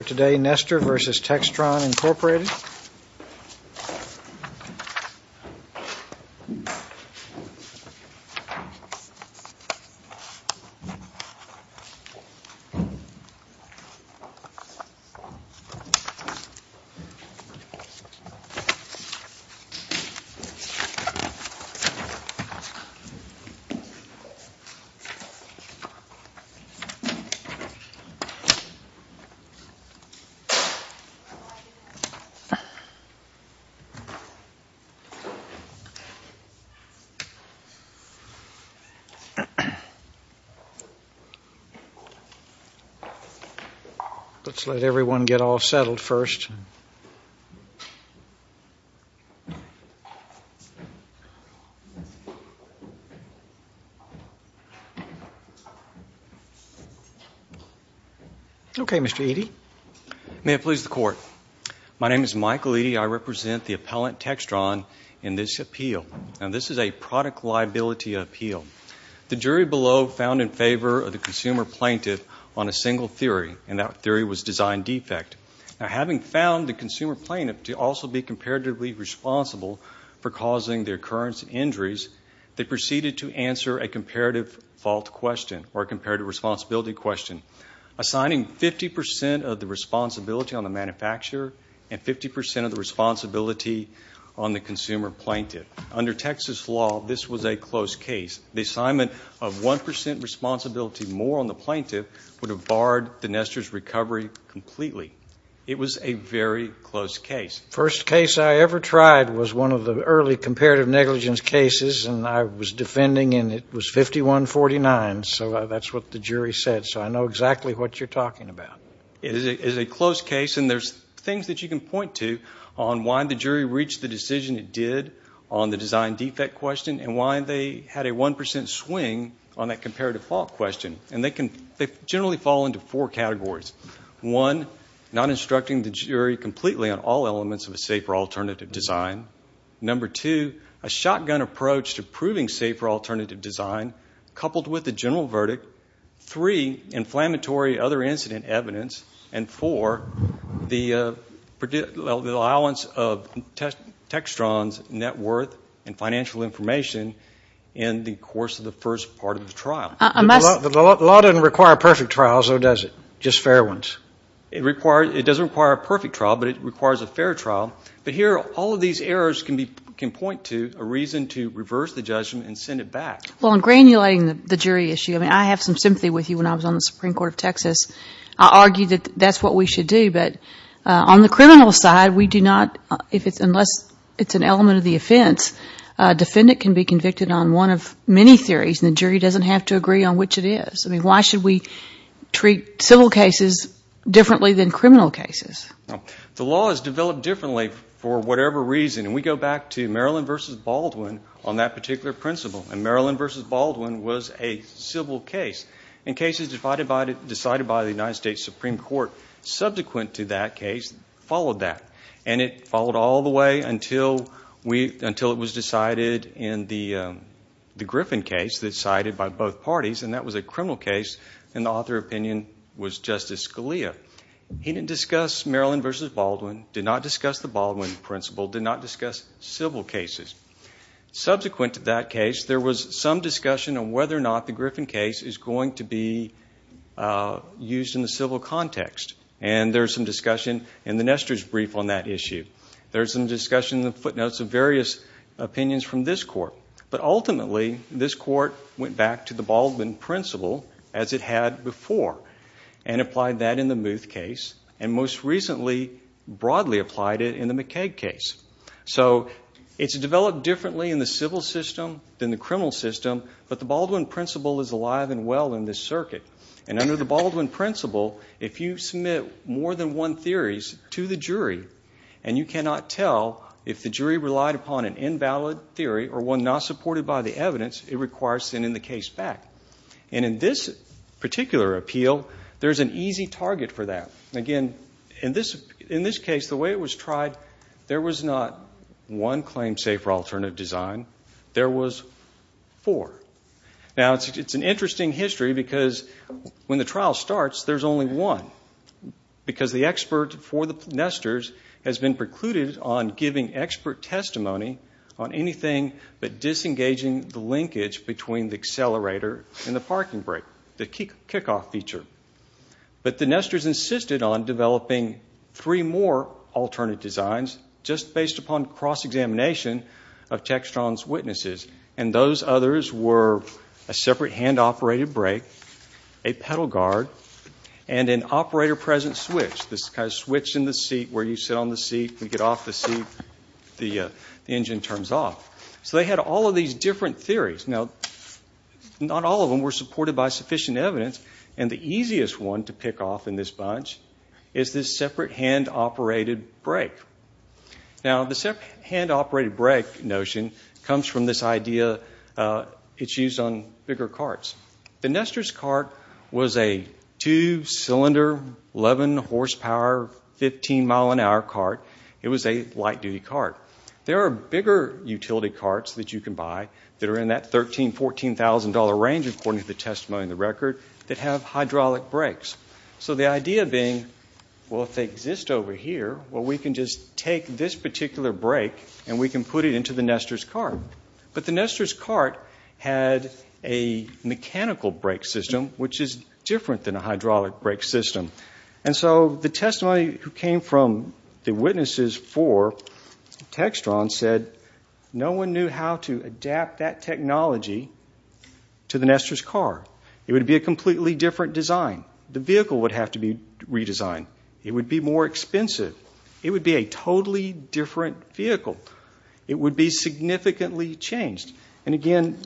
For today, Nester v. Textron, Incorporated Let's let everyone get all settled first. Okay, Mr. Eadie. May it please the Court. My name is Michael Eadie. I represent the appellant Textron in this appeal. Now, this is a product liability appeal. The jury below found in favor of the consumer plaintiff on a single theory, and that theory was design defect. Now, having found the consumer plaintiff to also be comparatively responsible for causing the occurrence of injuries, they proceeded to answer a comparative fault question or a comparative responsibility question, assigning 50% of the responsibility on the manufacturer and 50% of the responsibility on the consumer plaintiff. Under Texas law, this was a close case. The assignment of 1% responsibility more on the plaintiff would have barred the Nester's recovery completely. It was a very close case. The first case I ever tried was one of the early comparative negligence cases, and I was defending, and it was 51-49. So that's what the jury said. So I know exactly what you're talking about. It is a close case, and there's things that you can point to on why the jury reached the decision it did on the design defect question and why they had a 1% swing on that comparative fault question. And they generally fall into four categories. One, not instructing the jury completely on all elements of a safer alternative design. Number two, a shotgun approach to proving safer alternative design coupled with a general verdict. Three, inflammatory other incident evidence. And four, the allowance of Textron's net worth and financial information in the course of the first part of the trial. The law doesn't require perfect trials, though, does it? Just fair ones. It doesn't require a perfect trial, but it requires a fair trial. But here, all of these errors can point to a reason to reverse the judgment and send it back. Well, in granulating the jury issue, I have some sympathy with you. When I was on the Supreme Court of Texas, I argued that that's what we should do. But on the criminal side, unless it's an element of the offense, a defendant can be convicted on one of many theories, and the jury doesn't have to agree on which it is. I mean, why should we treat civil cases differently than criminal cases? The law is developed differently for whatever reason. And we go back to Maryland v. Baldwin on that particular principle. And Maryland v. Baldwin was a civil case. And cases decided by the United States Supreme Court subsequent to that case followed that. And it followed all the way until it was decided in the Griffin case that's decided by both parties, and that was a criminal case, and the author opinion was Justice Scalia. He didn't discuss Maryland v. Baldwin, did not discuss the Baldwin principle, did not discuss civil cases. Subsequent to that case, there was some discussion on whether or not the Griffin case is going to be used in the civil context. And there's some discussion in the Nestor's brief on that issue. There's some discussion in the footnotes of various opinions from this court. But ultimately, this court went back to the Baldwin principle, as it had before, and applied that in the Muth case, and most recently broadly applied it in the McKaig case. So it's developed differently in the civil system than the criminal system, but the Baldwin principle is alive and well in this circuit. And under the Baldwin principle, if you submit more than one theory to the jury, and you cannot tell if the jury relied upon an invalid theory or one not supported by the evidence, it requires sending the case back. And in this particular appeal, there's an easy target for that. Again, in this case, the way it was tried, there was not one claim safer alternative design. There was four. Now, it's an interesting history, because when the trial starts, there's only one. Because the expert for the Nestor's has been precluded on giving expert testimony on anything but disengaging the linkage between the accelerator and the parking brake, the kickoff feature. But the Nestor's insisted on developing three more alternate designs, and those others were a separate hand-operated brake, a pedal guard, and an operator-present switch. This kind of switch in the seat where you sit on the seat, you get off the seat, the engine turns off. So they had all of these different theories. Now, not all of them were supported by sufficient evidence, and the easiest one to pick off in this bunch is this separate hand-operated brake. Now, the separate hand-operated brake notion comes from this idea it's used on bigger carts. The Nestor's cart was a two-cylinder, 11-horsepower, 15-mile-an-hour cart. It was a light-duty cart. There are bigger utility carts that you can buy that are in that $13,000, $14,000 range, according to the testimony in the record, that have hydraulic brakes. So the idea being, well, if they exist over here, well, we can just take this particular brake and we can put it into the Nestor's cart. But the Nestor's cart had a mechanical brake system, which is different than a hydraulic brake system. And so the testimony that came from the witnesses for Textron said, no one knew how to adapt that technology to the Nestor's cart. It would be a completely different design. The vehicle would have to be redesigned. It would be more expensive. It would be a totally different vehicle. It would be significantly changed. And again,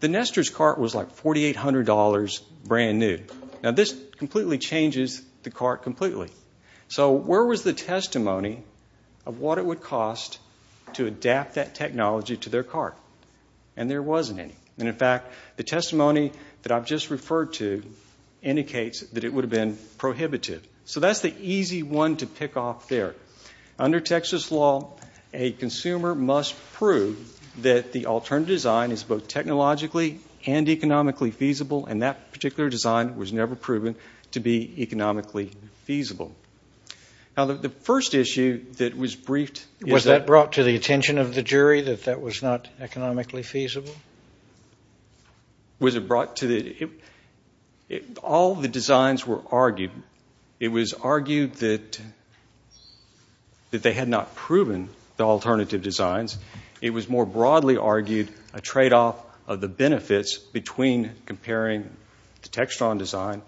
the Nestor's cart was like $4,800 brand new. Now, this completely changes the cart completely. So where was the testimony of what it would cost to adapt that technology to their cart? And there wasn't any. And, in fact, the testimony that I've just referred to indicates that it would have been prohibited. So that's the easy one to pick off there. Under Texas law, a consumer must prove that the alternative design is both technologically and economically feasible, and that particular design was never proven to be economically feasible. Now, the first issue that was briefed is that- Was it brought to the- All the designs were argued. It was argued that they had not proven the alternative designs. It was more broadly argued a tradeoff of the benefits between comparing the Textron design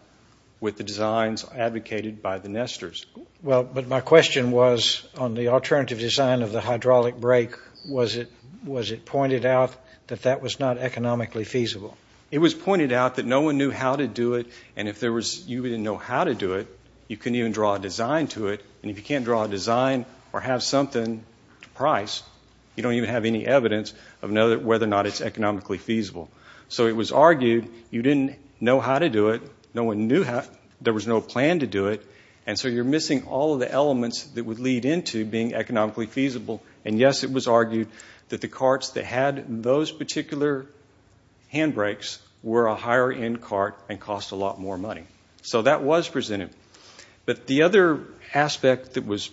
with the designs advocated by the Nestor's. Well, but my question was on the alternative design of the hydraulic brake. Was it pointed out that that was not economically feasible? It was pointed out that no one knew how to do it. And if you didn't know how to do it, you couldn't even draw a design to it. And if you can't draw a design or have something to price, you don't even have any evidence of whether or not it's economically feasible. So it was argued you didn't know how to do it. No one knew how. There was no plan to do it. And so you're missing all of the elements that would lead into being economically feasible. And, yes, it was argued that the carts that had those particular handbrakes were a higher-end cart and cost a lot more money. So that was presented. But the other aspect that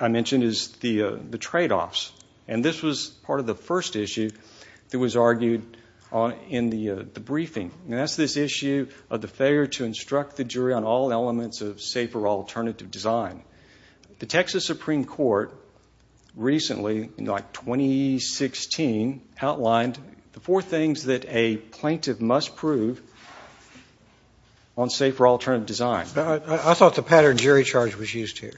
I mentioned is the tradeoffs. And this was part of the first issue that was argued in the briefing. And that's this issue of the failure to instruct the jury on all elements of safer alternative design. The Texas Supreme Court recently, in, like, 2016, outlined the four things that a plaintiff must prove on safer alternative design. I thought the pattern jury charge was used here.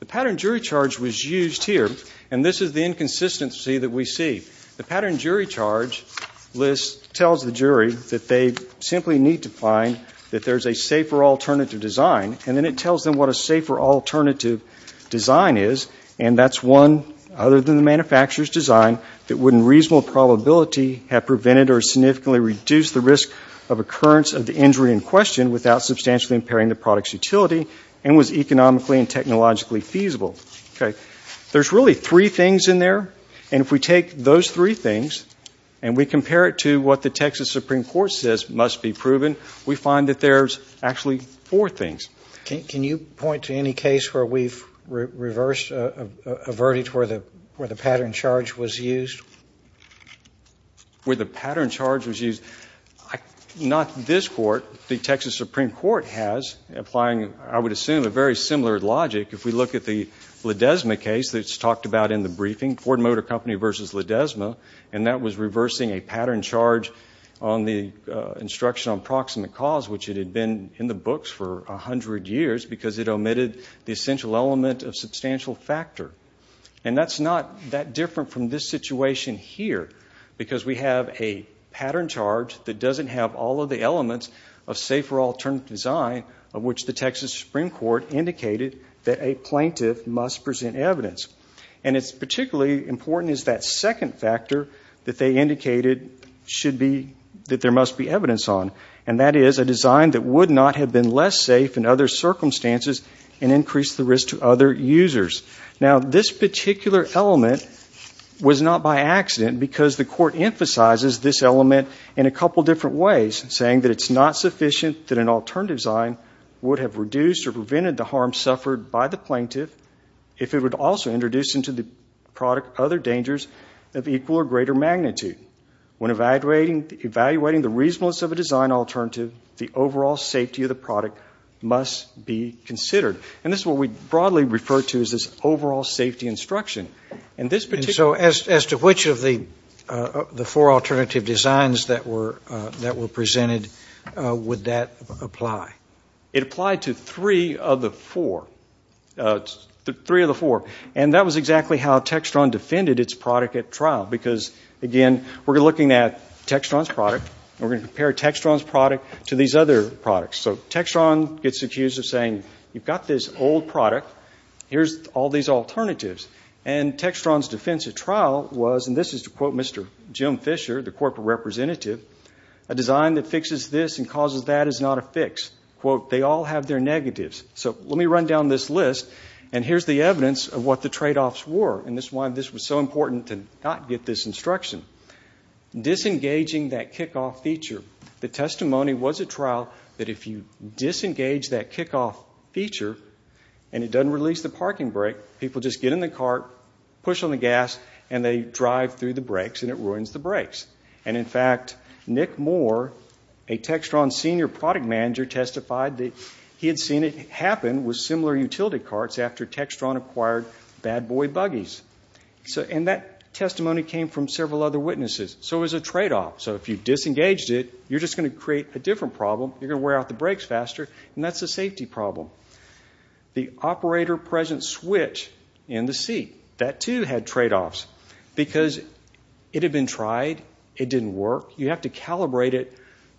The pattern jury charge was used here, and this is the inconsistency that we see. The pattern jury charge list tells the jury that they simply need to find that there's a safer alternative design, and then it tells them what a safer alternative design is. And that's one, other than the manufacturer's design, that wouldn't reasonable probability have prevented or significantly reduced the risk of occurrence of the injury in question without substantially impairing the product's utility and was economically and technologically feasible. There's really three things in there. And if we take those three things and we compare it to what the Texas Supreme Court says must be proven, we find that there's actually four things. Can you point to any case where we've reversed a verdict where the pattern charge was used? Where the pattern charge was used? Not this court. The Texas Supreme Court has, applying, I would assume, a very similar logic. If we look at the Ledesma case that's talked about in the briefing, Ford Motor Company versus Ledesma, and that was reversing a pattern charge on the instruction on proximate cause, which it had been in the books for 100 years because it omitted the essential element of substantial factor. And that's not that different from this situation here, because we have a pattern charge that doesn't have all of the elements of safer alternative design, of which the Texas Supreme Court indicated that a plaintiff must present evidence. And it's particularly important is that second factor that they indicated should be, that there must be evidence on. And that is a design that would not have been less safe in other circumstances and increased the risk to other users. Now, this particular element was not by accident, because the court emphasizes this element in a couple different ways, saying that it's not sufficient that an alternative design would have reduced or prevented the harm suffered by the plaintiff if it would also introduce into the product other dangers of equal or greater magnitude. When evaluating the reasonableness of a design alternative, the overall safety of the product must be considered. And this is what we broadly refer to as this overall safety instruction. And so as to which of the four alternative designs that were presented, would that apply? It applied to three of the four. And that was exactly how Textron defended its product at trial, because, again, we're looking at Textron's product, and we're going to compare Textron's product to these other products. So Textron gets accused of saying, you've got this old product, here's all these alternatives. And Textron's defense at trial was, and this is to quote Mr. Jim Fisher, the corporate representative, a design that fixes this and causes that is not a fix. Quote, they all have their negatives. So let me run down this list, and here's the evidence of what the tradeoffs were, and this is why this was so important to not get this instruction. Disengaging that kickoff feature. The testimony was at trial that if you disengage that kickoff feature and it doesn't release the parking brake, people just get in the car, push on the gas, and they drive through the brakes, and it ruins the brakes. And, in fact, Nick Moore, a Textron senior product manager, testified that he had seen it happen with similar utility carts after Textron acquired bad boy buggies. And that testimony came from several other witnesses. So it was a tradeoff. So if you disengaged it, you're just going to create a different problem. You're going to wear out the brakes faster, and that's a safety problem. The operator presence switch in the seat. That, too, had tradeoffs because it had been tried. It didn't work. You have to calibrate it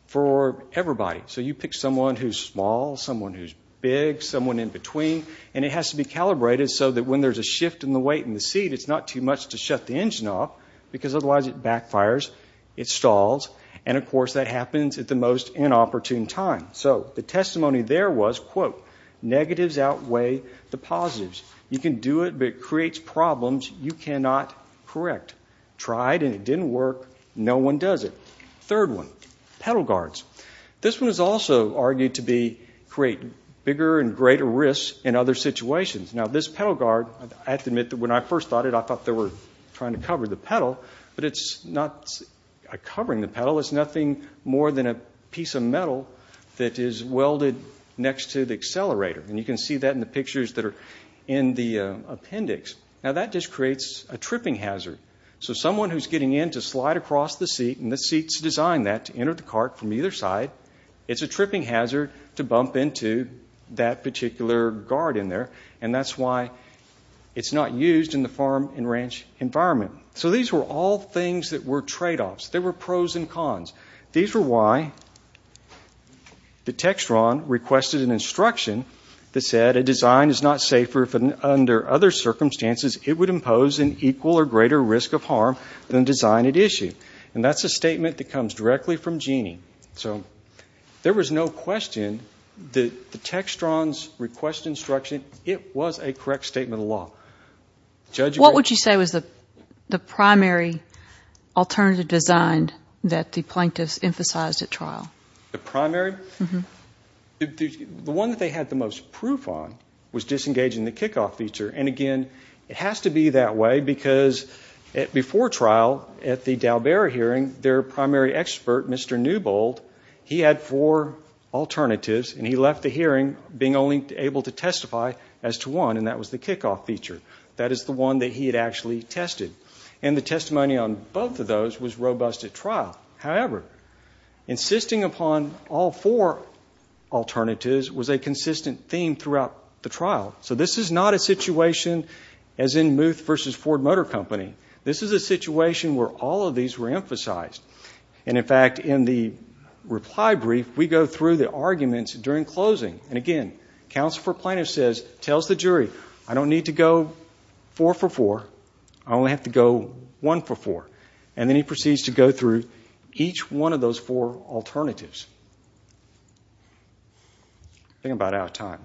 for everybody. So you pick someone who's small, someone who's big, someone in between, and it has to be calibrated so that when there's a shift in the weight in the seat, it's not too much to shut the engine off because otherwise it backfires, it stalls, and, of course, that happens at the most inopportune time. So the testimony there was, quote, negatives outweigh the positives. You can do it, but it creates problems you cannot correct. Tried, and it didn't work. No one does it. Third one, pedal guards. This one is also argued to create bigger and greater risks in other situations. Now, this pedal guard, I have to admit that when I first thought it, I thought they were trying to cover the pedal, but it's not covering the pedal. It's nothing more than a piece of metal that is welded next to the accelerator. And you can see that in the pictures that are in the appendix. Now, that just creates a tripping hazard. So someone who's getting in to slide across the seat, and the seat's designed that to enter the cart from either side, it's a tripping hazard to bump into that particular guard in there, and that's why it's not used in the farm and ranch environment. So these were all things that were tradeoffs. There were pros and cons. These were why the Textron requested an instruction that said, a design is not safer under other circumstances. It would impose an equal or greater risk of harm than design at issue. And that's a statement that comes directly from Jeanne. So there was no question that the Textron's request instruction, it was a correct statement of law. What would you say was the primary alternative design that the plaintiffs emphasized at trial? The primary? The one that they had the most proof on was disengaging the kickoff feature. And, again, it has to be that way because before trial at the Dalbara hearing, their primary expert, Mr. Newbold, he had four alternatives, and he left the hearing being only able to testify as to one, and that was the kickoff feature. That is the one that he had actually tested. And the testimony on both of those was robust at trial. However, insisting upon all four alternatives was a consistent theme throughout the trial. So this is not a situation as in Muth v. Ford Motor Company. This is a situation where all of these were emphasized. And, in fact, in the reply brief, we go through the arguments during closing. And, again, counsel for plaintiff says, tells the jury, I don't need to go four for four. I only have to go one for four. And then he proceeds to go through each one of those four alternatives. I think I'm about out of time.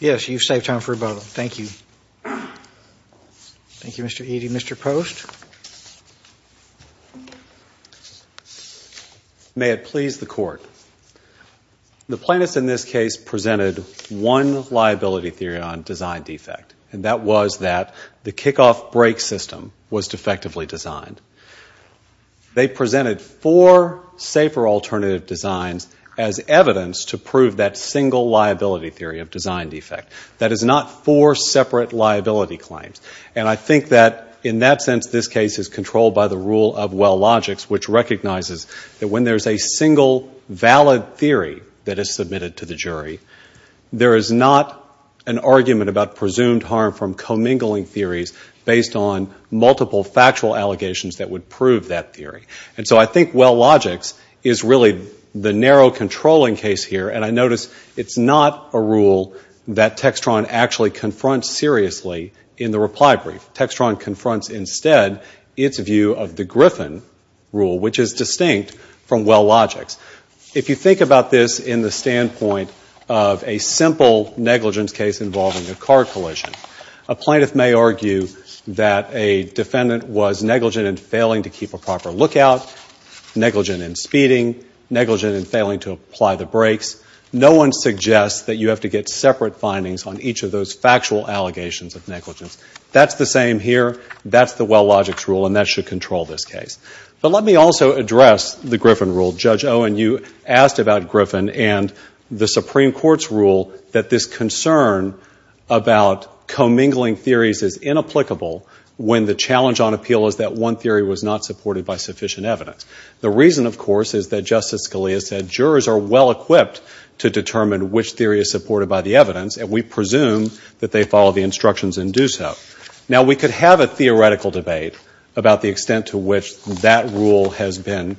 Yes, you've saved time for rebuttal. Thank you. Thank you, Mr. Eady. Mr. Post? May it please the Court. The plaintiffs in this case presented one liability theory on design defect, and that was that the kickoff brake system was defectively designed. They presented four safer alternative designs as evidence to prove that single liability theory of design defect. That is not four separate liability claims. And I think that, in that sense, this case is controlled by the rule of well logics, which recognizes that when there's a single valid theory that is submitted to the jury, there is not an argument about presumed harm from commingling theories based on multiple factual allegations that would prove that theory. And so I think well logics is really the narrow controlling case here, and I notice it's not a rule that Textron actually confronts seriously in the reply brief. Textron confronts instead its view of the Griffin rule, which is distinct from well logics. If you think about this in the standpoint of a simple negligence case involving a car collision, a plaintiff may argue that a defendant was negligent in failing to keep a proper lookout, negligent in speeding, negligent in failing to apply the brakes. No one suggests that you have to get separate findings on each of those factual allegations of negligence. That's the same here. That's the well logics rule, and that should control this case. But let me also address the Griffin rule. Judge Owen, you asked about Griffin and the Supreme Court's rule that this concern about commingling theories is inapplicable when the challenge on appeal is that one theory was not supported by sufficient evidence. The reason, of course, is that Justice Scalia said jurors are well equipped to determine which theory is supported by the evidence, and we presume that they follow the instructions and do so. Now, we could have a theoretical debate about the extent to which that rule has been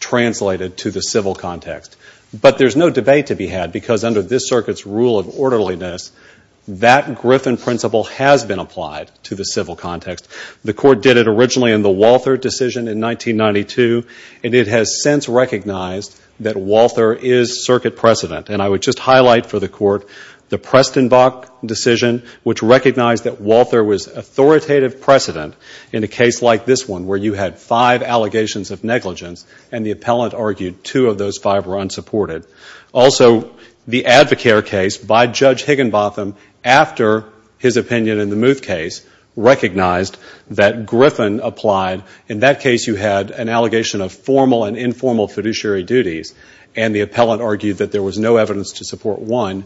translated to the civil context, but there's no debate to be had because under this circuit's rule of orderliness, that Griffin principle has been applied to the civil context. The court did it originally in the Walther decision in 1992, and it has since recognized that Walther is circuit precedent. And I would just highlight for the court the Prestonbach decision, which recognized that Walther was authoritative precedent in a case like this one, where you had five allegations of negligence, and the appellant argued two of those five were unsupported. Also, the Advocare case by Judge Higginbotham, after his opinion in the Muth case, recognized that Griffin applied. In that case, you had an allegation of formal and informal fiduciary duties, and the appellant argued that there was no evidence to support one,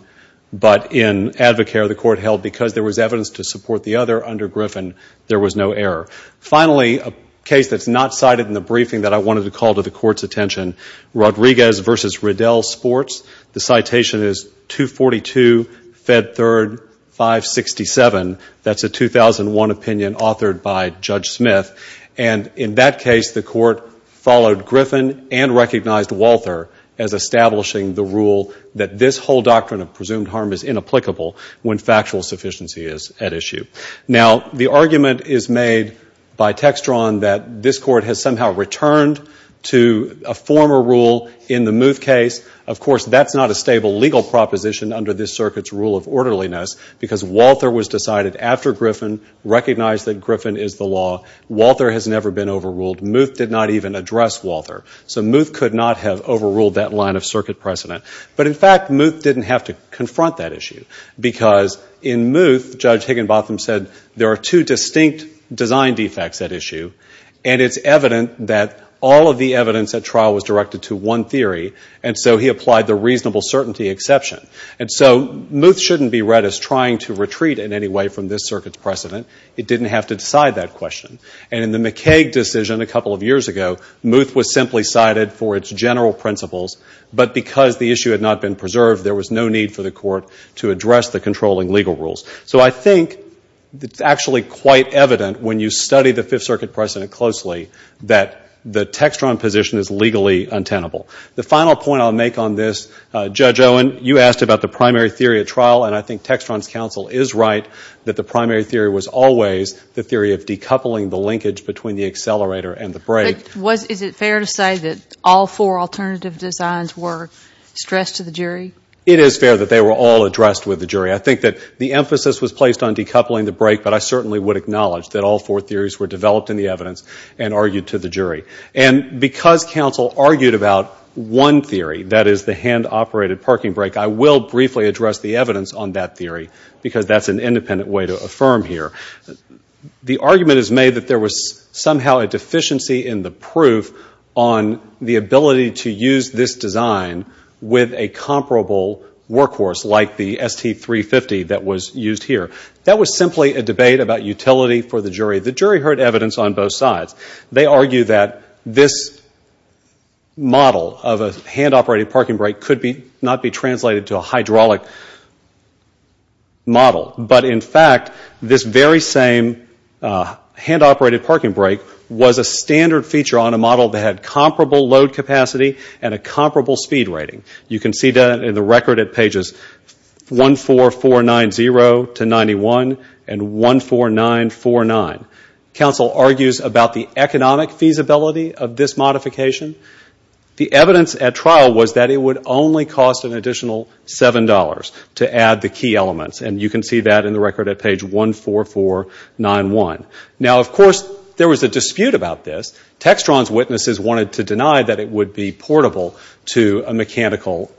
but in Advocare, the court held because there was evidence to support the other under Griffin, there was no error. Finally, a case that's not cited in the briefing that I wanted to call to the court's attention, Rodriguez v. Riddell Sports. The citation is 242, Fed Third, 567. That's a 2001 opinion authored by Judge Smith. And in that case, the court followed Griffin and recognized Walther as establishing the rule that this whole doctrine of presumed harm is inapplicable when factual sufficiency is at issue. Now, the argument is made by Textron that this court has somehow returned to a former rule in the Muth case. Of course, that's not a stable legal proposition under this circuit's rule of orderliness because Walther was decided after Griffin, recognized that Griffin is the law. Walther has never been overruled. Muth did not even address Walther. So Muth could not have overruled that line of circuit precedent. But, in fact, Muth didn't have to confront that issue because in Muth, Judge Higginbotham said, there are two distinct design defects at issue, and it's evident that all of the evidence at trial was directed to one theory, and so he applied the reasonable certainty exception. And so Muth shouldn't be read as trying to retreat in any way from this circuit's precedent. It didn't have to decide that question. And in the McCaig decision a couple of years ago, Muth was simply cited for its general principles, but because the issue had not been preserved, there was no need for the court to address the controlling legal rules. So I think it's actually quite evident when you study the Fifth Circuit precedent closely that the Textron position is legally untenable. The final point I'll make on this, Judge Owen, you asked about the primary theory at trial, and I think Textron's counsel is right that the primary theory was always the theory of decoupling the linkage between the accelerator and the brake. But is it fair to say that all four alternative designs were stressed to the jury? It is fair that they were all addressed with the jury. I think that the emphasis was placed on decoupling the brake, but I certainly would acknowledge that all four theories were developed in the evidence and argued to the jury. And because counsel argued about one theory, that is the hand-operated parking brake, I will briefly address the evidence on that theory because that's an independent way to affirm here. The argument is made that there was somehow a deficiency in the proof on the ability to use this design with a comparable workhorse like the ST350 that was used here. That was simply a debate about utility for the jury. The jury heard evidence on both sides. They argue that this model of a hand-operated parking brake could not be translated to a hydraulic model. But, in fact, this very same hand-operated parking brake was a standard feature on a model that had comparable load capacity and a comparable speed rating. You can see that in the record at pages 14490-91 and 14949. Counsel argues about the economic feasibility of this modification. The evidence at trial was that it would only cost an additional $7 to add the key elements. And you can see that in the record at page 14491. Now, of course, there was a dispute about this. Textron's witnesses wanted to deny that it would be portable to a mechanical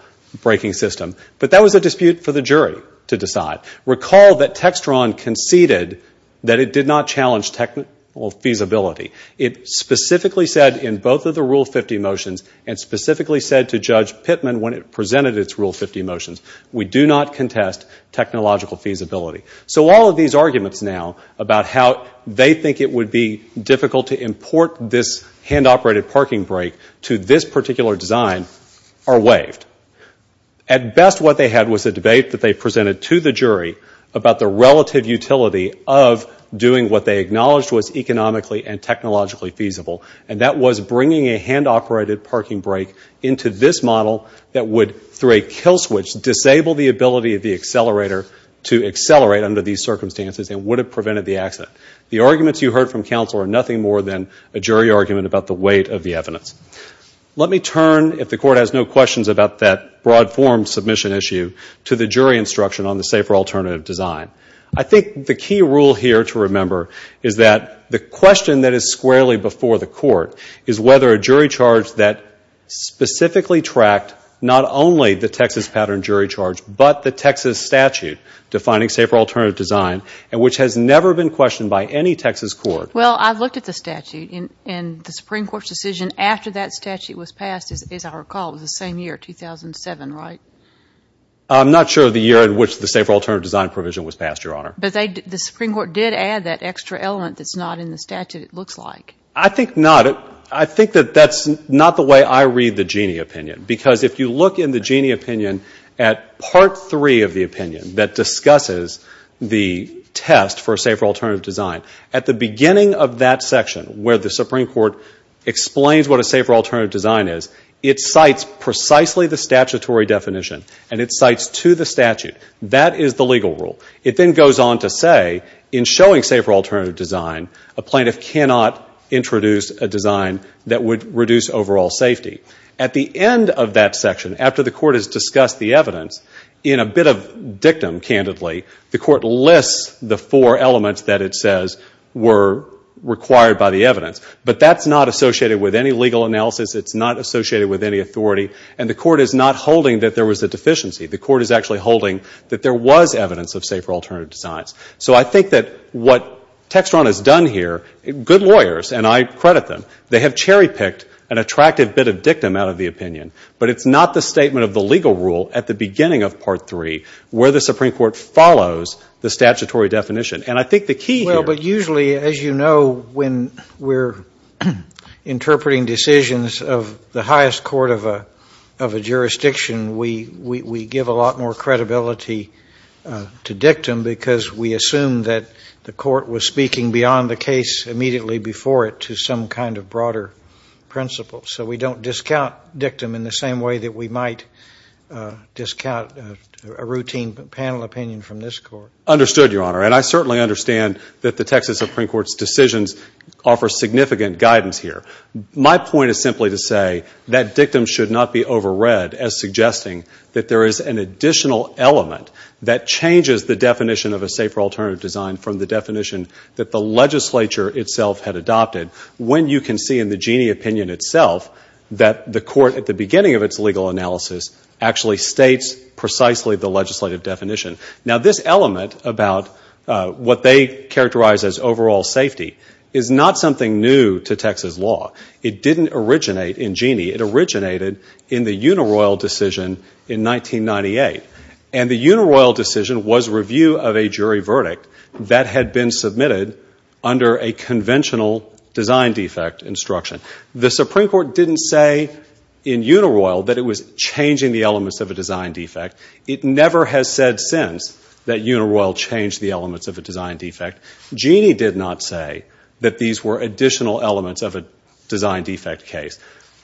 braking system. But that was a dispute for the jury to decide. Recall that Textron conceded that it did not challenge technical feasibility. It specifically said in both of the Rule 50 motions, and specifically said to Judge Pittman when it presented its Rule 50 motions, we do not contest technological feasibility. So all of these arguments now about how they think it would be difficult to import this hand-operated parking brake to this particular design are waived. At best, what they had was a debate that they presented to the jury about the relative utility of doing what they acknowledged was economically and technologically feasible. And that was bringing a hand-operated parking brake into this model that would, through a kill switch, disable the ability of the accelerator to accelerate under these circumstances and would have prevented the accident. The arguments you heard from counsel are nothing more than a jury argument about the weight of the evidence. Let me turn, if the Court has no questions about that broad-form submission issue, to the jury instruction on the safer alternative design. I think the key rule here to remember is that the question that is squarely before the Court is whether a jury charge that specifically tracked not only the Texas pattern jury charge but the Texas statute defining safer alternative design, and which has never been questioned by any Texas court. Well, I've looked at the statute, and the Supreme Court's decision after that statute was passed, as I recall, was the same year, 2007, right? I'm not sure of the year in which the safer alternative design provision was passed, Your Honor. But the Supreme Court did add that extra element that's not in the statute, it looks like. I think not. I think that that's not the way I read the Genie opinion, because if you look in the Genie opinion at part three of the opinion that discusses the test for safer alternative design, at the beginning of that section where the Supreme Court explains what a safer alternative design is, it cites precisely the statutory definition, and it cites to the statute. That is the legal rule. It then goes on to say, in showing safer alternative design, a plaintiff cannot introduce a design that would reduce overall safety. At the end of that section, after the Court has discussed the evidence, in a bit of dictum, candidly, the Court lists the four elements that it says were required by the evidence. But that's not associated with any legal analysis. It's not associated with any authority. And the Court is not holding that there was a deficiency. The Court is actually holding that there was evidence of safer alternative designs. So I think that what Textron has done here, good lawyers, and I credit them, they have cherry-picked an attractive bit of dictum out of the opinion. But it's not the statement of the legal rule at the beginning of part three where the Supreme Court follows the statutory definition. And I think the key here – Well, but usually, as you know, when we're interpreting decisions of the highest court of a jurisdiction, we give a lot more credibility to dictum because we assume that the Court was speaking beyond the case immediately before it to some kind of broader principle. So we don't discount dictum in the same way that we might discount a routine panel opinion from this Court. Understood, Your Honor. And I certainly understand that the Texas Supreme Court's decisions offer significant guidance here. My point is simply to say that dictum should not be overread as suggesting that there is an additional element that changes the definition of a safer alternative design from the definition that the legislature itself had adopted. When you can see in the Genie opinion itself that the Court at the beginning of its legal analysis actually states precisely the legislative definition. Now, this element about what they characterize as overall safety is not something new to Texas law. It didn't originate in Genie. It originated in the Unaroyal decision in 1998. And the Unaroyal decision was review of a jury verdict that had been submitted under a conventional design defect instruction. The Supreme Court didn't say in Unaroyal that it was changing the elements of a design defect. It never has said since that Unaroyal changed the elements of a design defect. Genie did not say that these were additional elements of a design defect case.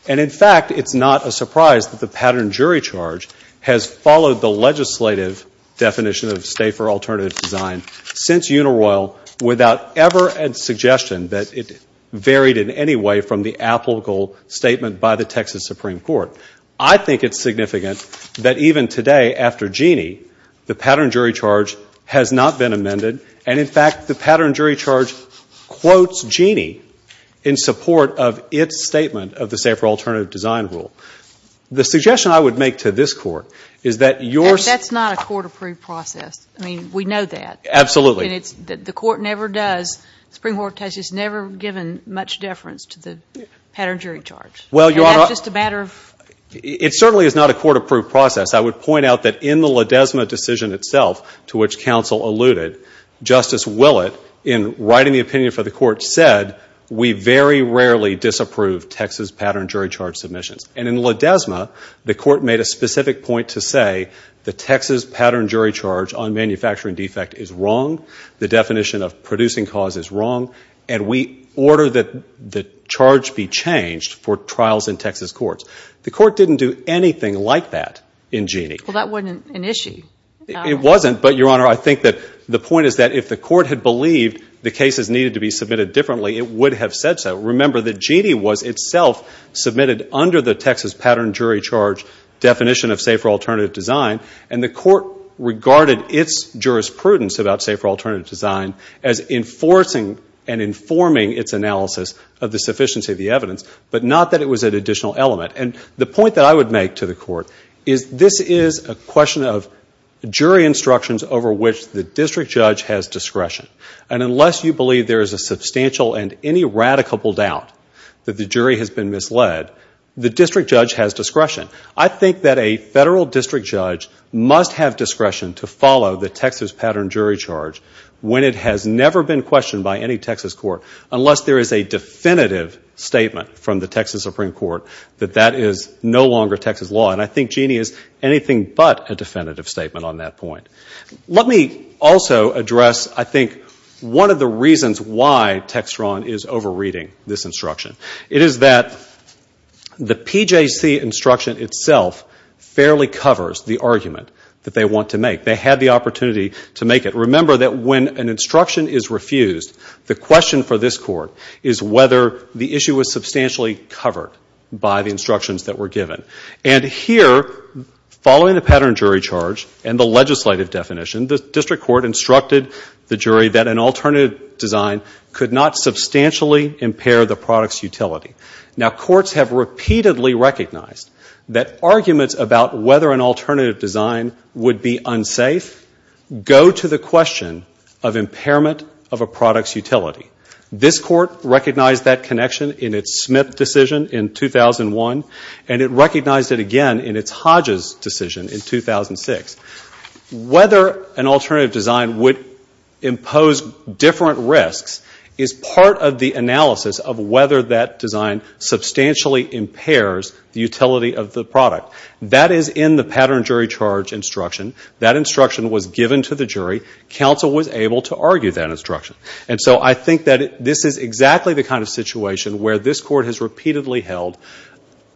And, in fact, it's not a surprise that the pattern jury charge has followed the legislative definition of safer alternative design since Unaroyal without ever a suggestion that it varied in any way from the applicable statement by the Texas Supreme Court. I think it's significant that even today after Genie, the pattern jury charge has not been amended. And, in fact, the pattern jury charge quotes Genie in support of its statement of the safer alternative design rule. The suggestion I would make to this Court is that your... That's not a court-approved process. I mean, we know that. Absolutely. And it's that the Court never does, the Supreme Court has just never given much deference to the pattern jury charge. Well, Your Honor... And that's just a matter of... It certainly is not a court-approved process. I would point out that in the Ledesma decision itself, to which counsel alluded, Justice Willett, in writing the opinion for the Court, the Court said, we very rarely disapprove Texas pattern jury charge submissions. And in Ledesma, the Court made a specific point to say the Texas pattern jury charge on manufacturing defect is wrong, the definition of producing cause is wrong, and we order that the charge be changed for trials in Texas courts. The Court didn't do anything like that in Genie. Well, that wasn't an issue. It wasn't, but, Your Honor, I think that the point is that if the Court had believed the cases needed to be submitted differently, it would have said so. Remember that Genie was itself submitted under the Texas pattern jury charge definition of safer alternative design, and the Court regarded its jurisprudence about safer alternative design as enforcing and informing its analysis of the sufficiency of the evidence, but not that it was an additional element. And the point that I would make to the Court is this is a question of jury instructions over which the district judge has discretion. And unless you believe there is a substantial and any radical doubt that the jury has been misled, the district judge has discretion. I think that a federal district judge must have discretion to follow the Texas pattern jury charge when it has never been questioned by any Texas court, unless there is a definitive statement from the Texas Supreme Court that that is no longer Texas law. And I think Genie is anything but a definitive statement on that point. Let me also address, I think, one of the reasons why Textron is over-reading this instruction. It is that the PJC instruction itself fairly covers the argument that they want to make. They had the opportunity to make it. Remember that when an instruction is refused, the question for this Court is whether the issue was substantially covered by the instructions that were given. And here, following the pattern jury charge and the legislative definition, the district court instructed the jury that an alternative design could not substantially impair the product's utility. Now, courts have repeatedly recognized that arguments about whether an alternative design would be unsafe go to the question of impairment of a product's utility. This Court recognized that connection in its Smith decision in 2001, and it recognized it again in its Hodges decision in 2006. Whether an alternative design would impose different risks is part of the analysis of whether that design substantially impairs the utility of the product. That is in the pattern jury charge instruction. That instruction was given to the jury. Counsel was able to argue that instruction. And so I think that this is exactly the kind of situation where this Court has repeatedly held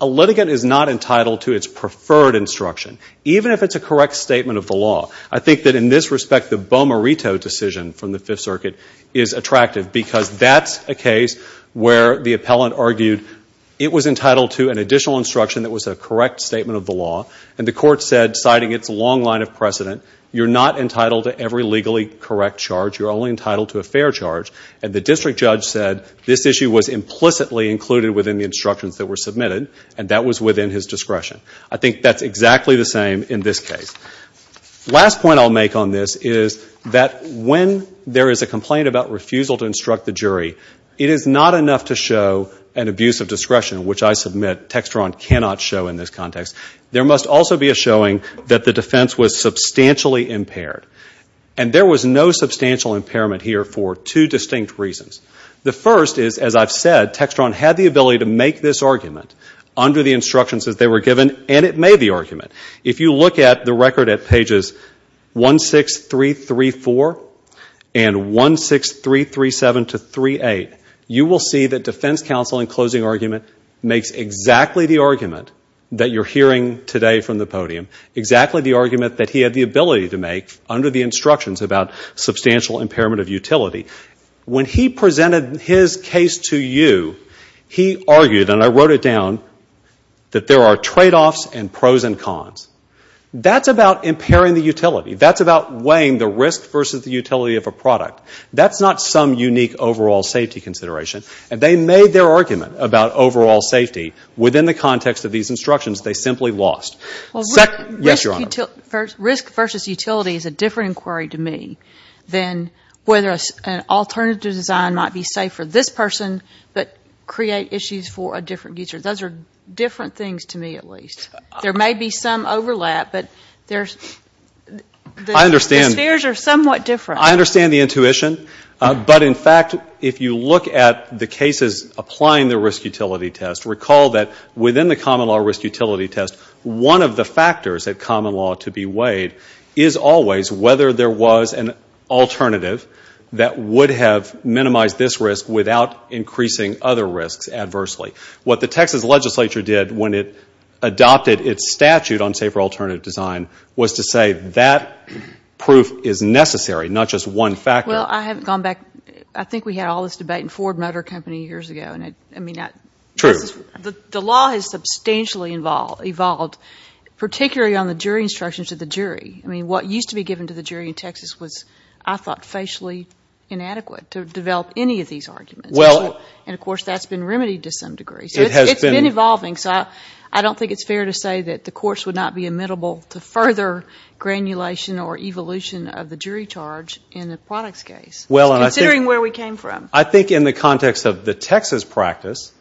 a litigant is not entitled to its preferred instruction, even if it's a correct statement of the law. I think that in this respect, the Bomarito decision from the Fifth Circuit is attractive because that's a case where the appellant argued it was entitled to an additional instruction that was a correct statement of the law. And the Court said, citing its long line of precedent, you're not entitled to every legally correct charge. You're only entitled to a fair charge. And the district judge said this issue was implicitly included within the instructions that were submitted, and that was within his discretion. I think that's exactly the same in this case. Last point I'll make on this is that when there is a complaint about refusal to instruct the jury, it is not enough to show an abuse of discretion, which I submit Textron cannot show in this context. There must also be a showing that the defense was substantially impaired. And there was no substantial impairment here for two distinct reasons. The first is, as I've said, Textron had the ability to make this argument under the instructions that they were given, and it made the argument. If you look at the record at pages 16334 and 16337-38, you will see that defense counsel in closing argument makes exactly the argument that you're hearing today from the podium, exactly the argument that he had the ability to make under the instructions about substantial impairment of utility. When he presented his case to you, he argued, and I wrote it down, that there are tradeoffs and pros and cons. That's about impairing the utility. That's about weighing the risk versus the utility of a product. That's not some unique overall safety consideration. They made their argument about overall safety within the context of these instructions. They simply lost. Yes, Your Honor. Risk versus utility is a different inquiry to me than whether an alternative design might be safe for this person but create issues for a different user. Those are different things to me, at least. There may be some overlap, but the spheres are somewhat different. I understand the intuition. But, in fact, if you look at the cases applying the risk-utility test, recall that within the common law risk-utility test, one of the factors at common law to be weighed is always whether there was an alternative that would have minimized this risk without increasing other risks adversely. What the Texas legislature did when it adopted its statute on safer alternative design was to say that proof is necessary, not just one factor. Well, I haven't gone back. I think we had all this debate in Ford Motor Company years ago. True. The law has substantially evolved, particularly on the jury instructions of the jury. I mean, what used to be given to the jury in Texas was, I thought, facially inadequate to develop any of these arguments. And, of course, that's been remedied to some degree. It has been. It's been evolving, so I don't think it's fair to say that the course would not be amenable to further granulation or evolution of the jury charge in the products case, considering where we came from. I think in the context of the Texas practice,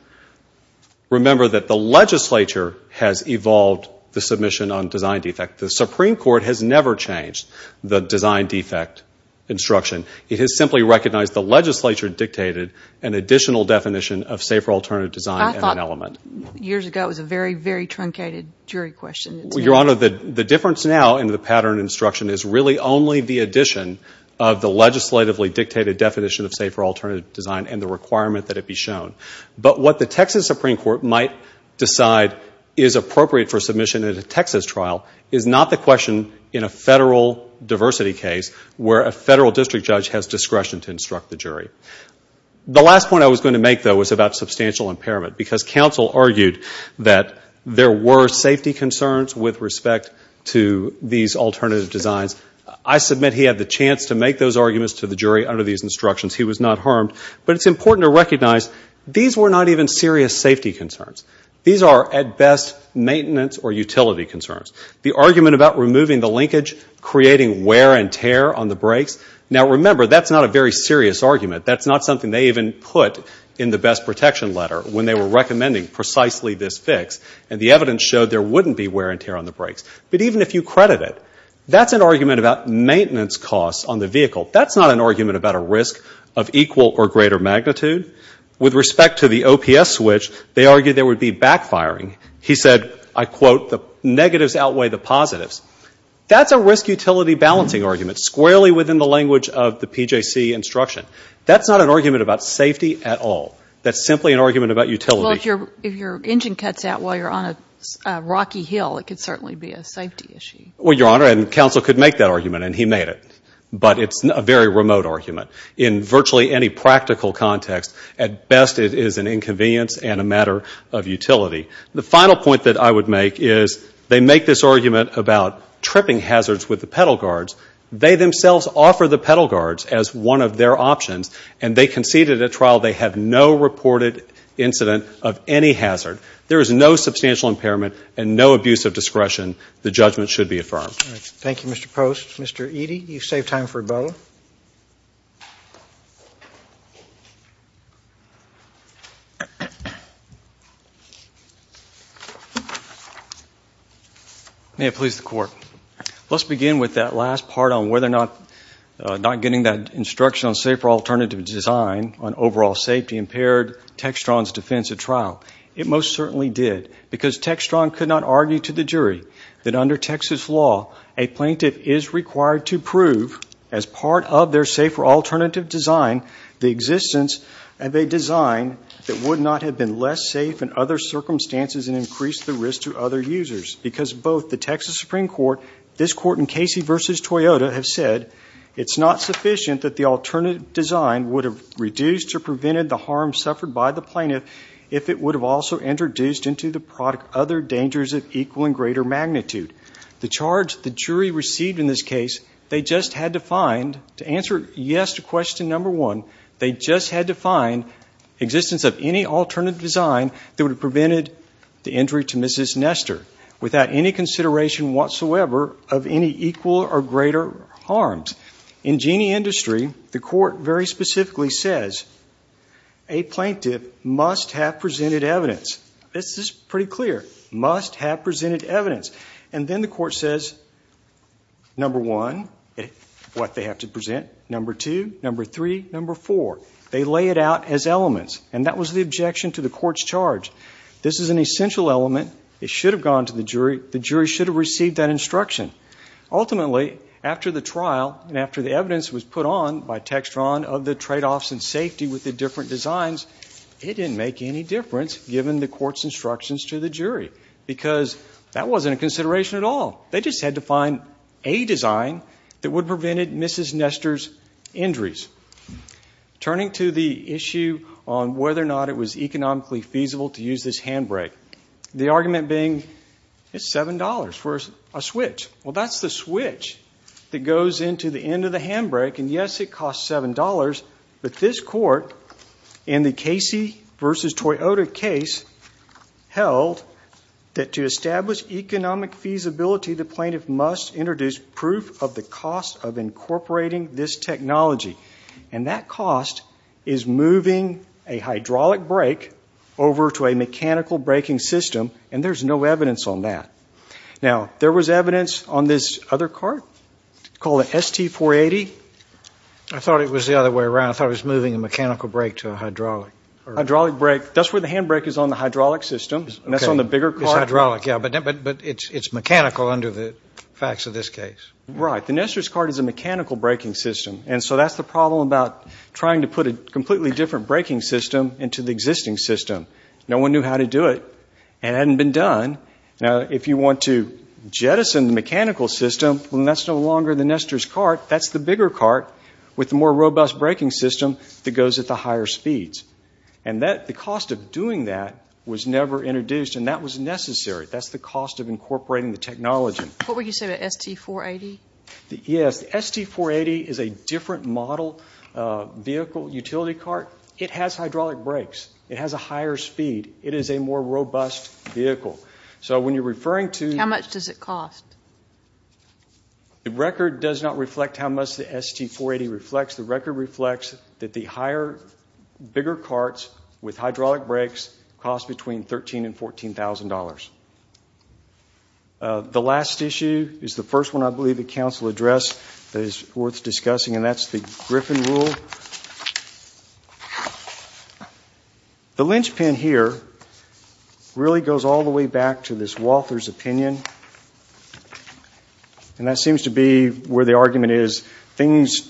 remember that the legislature has evolved the submission on design defect. The Supreme Court has never changed the design defect instruction. It has simply recognized the legislature dictated an additional definition of safer alternative design in an element. I thought years ago it was a very, very truncated jury question. Your Honor, the difference now in the pattern instruction is really only the addition of the legislatively dictated definition of safer alternative design and the requirement that it be shown. But what the Texas Supreme Court might decide is appropriate for submission at a Texas trial is not the question in a federal diversity case where a federal district judge has discretion to instruct the jury. The last point I was going to make, though, was about substantial impairment because counsel argued that there were safety concerns with respect to these alternative designs. I submit he had the chance to make those arguments to the jury under these instructions. He was not harmed. But it's important to recognize these were not even serious safety concerns. These are, at best, maintenance or utility concerns. The argument about removing the linkage, creating wear and tear on the brakes, now, remember, that's not a very serious argument. That's not something they even put in the best protection letter when they were recommending precisely this fix. And the evidence showed there wouldn't be wear and tear on the brakes. But even if you credit it, that's an argument about maintenance costs on the vehicle. That's not an argument about a risk of equal or greater magnitude. With respect to the OPS switch, they argued there would be backfiring. He said, I quote, the negatives outweigh the positives. That's a risk-utility balancing argument, squarely within the language of the PJC instruction. That's not an argument about safety at all. That's simply an argument about utility. Well, if your engine cuts out while you're on a rocky hill, it could certainly be a safety issue. Well, Your Honor, and counsel could make that argument, and he made it. But it's a very remote argument. In virtually any practical context, at best it is an inconvenience and a matter of utility. The final point that I would make is, they make this argument about tripping hazards with the pedal guards. They themselves offer the pedal guards as one of their options, and they conceded at trial they have no reported incident of any hazard. There is no substantial impairment and no abuse of discretion. The judgment should be affirmed. Thank you, Mr. Post. Mr. Eadie, you've saved time for both. May it please the Court. Let's begin with that last part on whether or not not getting that instruction on safer alternative design on overall safety impaired Textron's defense at trial. It most certainly did, because Textron could not argue to the jury that under Texas law a plaintiff is required to prove, as part of their safer alternative design, the existence of a design that would not have been less safe in other circumstances and increased the risk to other users. Because both the Texas Supreme Court, this Court, and Casey v. Toyota have said it's not sufficient that the alternative design would have reduced or prevented the harm suffered by the plaintiff if it would have also introduced into the product other dangers of equal and greater magnitude. The charge the jury received in this case, they just had to find, to answer yes to question number one, they just had to find existence of any alternative design that would have prevented the injury to Mrs. Nestor without any consideration whatsoever of any equal or greater harms. In Jeanne Industry, the court very specifically says a plaintiff must have presented evidence. This is pretty clear. Must have presented evidence. And then the court says, number one, what they have to present, number two, number three, number four. They lay it out as elements. And that was the objection to the court's charge. This is an essential element. The jury should have received that instruction. Ultimately, after the trial and after the evidence was put on by Textron of the tradeoffs in safety with the different designs, it didn't make any difference given the court's instructions to the jury because that wasn't a consideration at all. They just had to find a design that would have prevented Mrs. Nestor's injuries. Turning to the issue on whether or not it was economically feasible to use this handbrake, the argument being it's $7 for a switch. Well, that's the switch that goes into the end of the handbrake. And, yes, it costs $7, but this court in the Casey v. Toyota case held that to establish economic feasibility, the plaintiff must introduce proof of the cost of incorporating this technology. And that cost is moving a hydraulic brake over to a mechanical braking system, and there's no evidence on that. Now, there was evidence on this other cart called an ST-480. I thought it was the other way around. I thought it was moving a mechanical brake to a hydraulic. Hydraulic brake, that's where the handbrake is on the hydraulic system. That's on the bigger cart. It's hydraulic, yeah, but it's mechanical under the facts of this case. Right. The Nestor's cart is a mechanical braking system. And so that's the problem about trying to put a completely different braking system into the existing system. No one knew how to do it, and it hadn't been done. Now, if you want to jettison the mechanical system, well, then that's no longer the Nestor's cart. That's the bigger cart with the more robust braking system that goes at the higher speeds. And the cost of doing that was never introduced, and that was necessary. That's the cost of incorporating the technology. What would you say about ST-480? Yes, the ST-480 is a different model vehicle utility cart. It has hydraulic brakes. It has a higher speed. It is a more robust vehicle. So when you're referring to- How much does it cost? The record does not reflect how much the ST-480 reflects. The record reflects that the higher, bigger carts with hydraulic brakes cost between $13,000 and $14,000. The last issue is the first one I believe the Council addressed that is worth discussing, and that's the Griffin Rule. The linchpin here really goes all the way back to this Walther's opinion, and that seems to be where the argument is. Things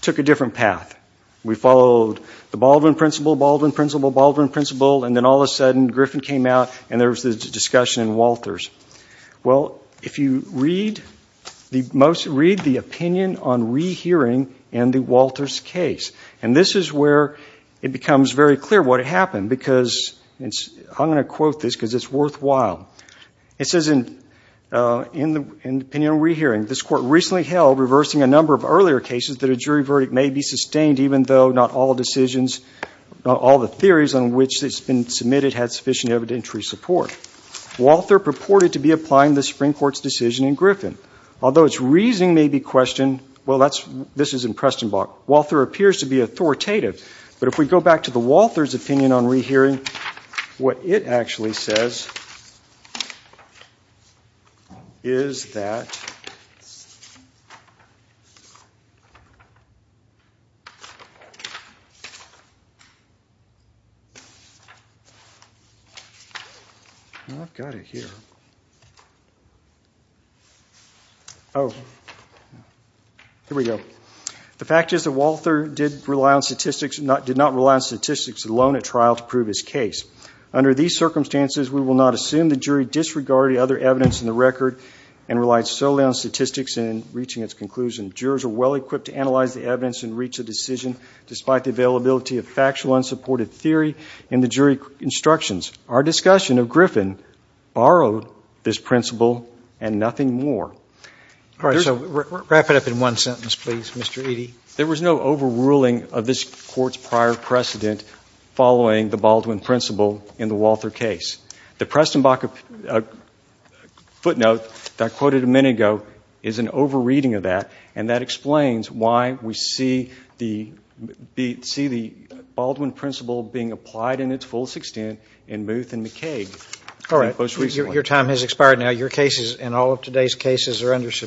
took a different path. We followed the Baldwin principle, Baldwin principle, Baldwin principle, and then all of a sudden Griffin came out, and there was this discussion in Walther's. Well, if you read the opinion on rehearing in the Walther's case, and this is where it becomes very clear what happened because it's- I'm going to quote this because it's worthwhile. It says in the opinion on rehearing, this Court recently held, reversing a number of earlier cases, that a jury verdict may be sustained even though not all decisions, not all the theories on which it's been submitted had sufficient evidentiary support. Walther purported to be applying the Supreme Court's decision in Griffin. Although its reasoning may be questioned, well, this is in Prestenbach, Walther appears to be authoritative, but if we go back to the Walther's opinion on rehearing, what it actually says is that- The fact is that Walther did not rely on statistics alone at trial to prove his case. Under these circumstances, we will not assume the jury disregarded other evidence in the record and relied solely on statistics in reaching its conclusion. Jurors are well-equipped to analyze the evidence and reach a decision despite the availability of factual unsupported theory in the jury instructions. Our discussion of Griffin borrowed this principle and nothing more. Wrap it up in one sentence, please, Mr. Eadie. There was no overruling of this Court's prior precedent following the Baldwin principle in the Walther case. The Prestenbach footnote that I quoted a minute ago is an over-reading of that and that explains why we see the Baldwin principle being applied in its fullest extent in Muth and McCaig. All right. Your time has expired now. Your cases and all of today's cases are under submission.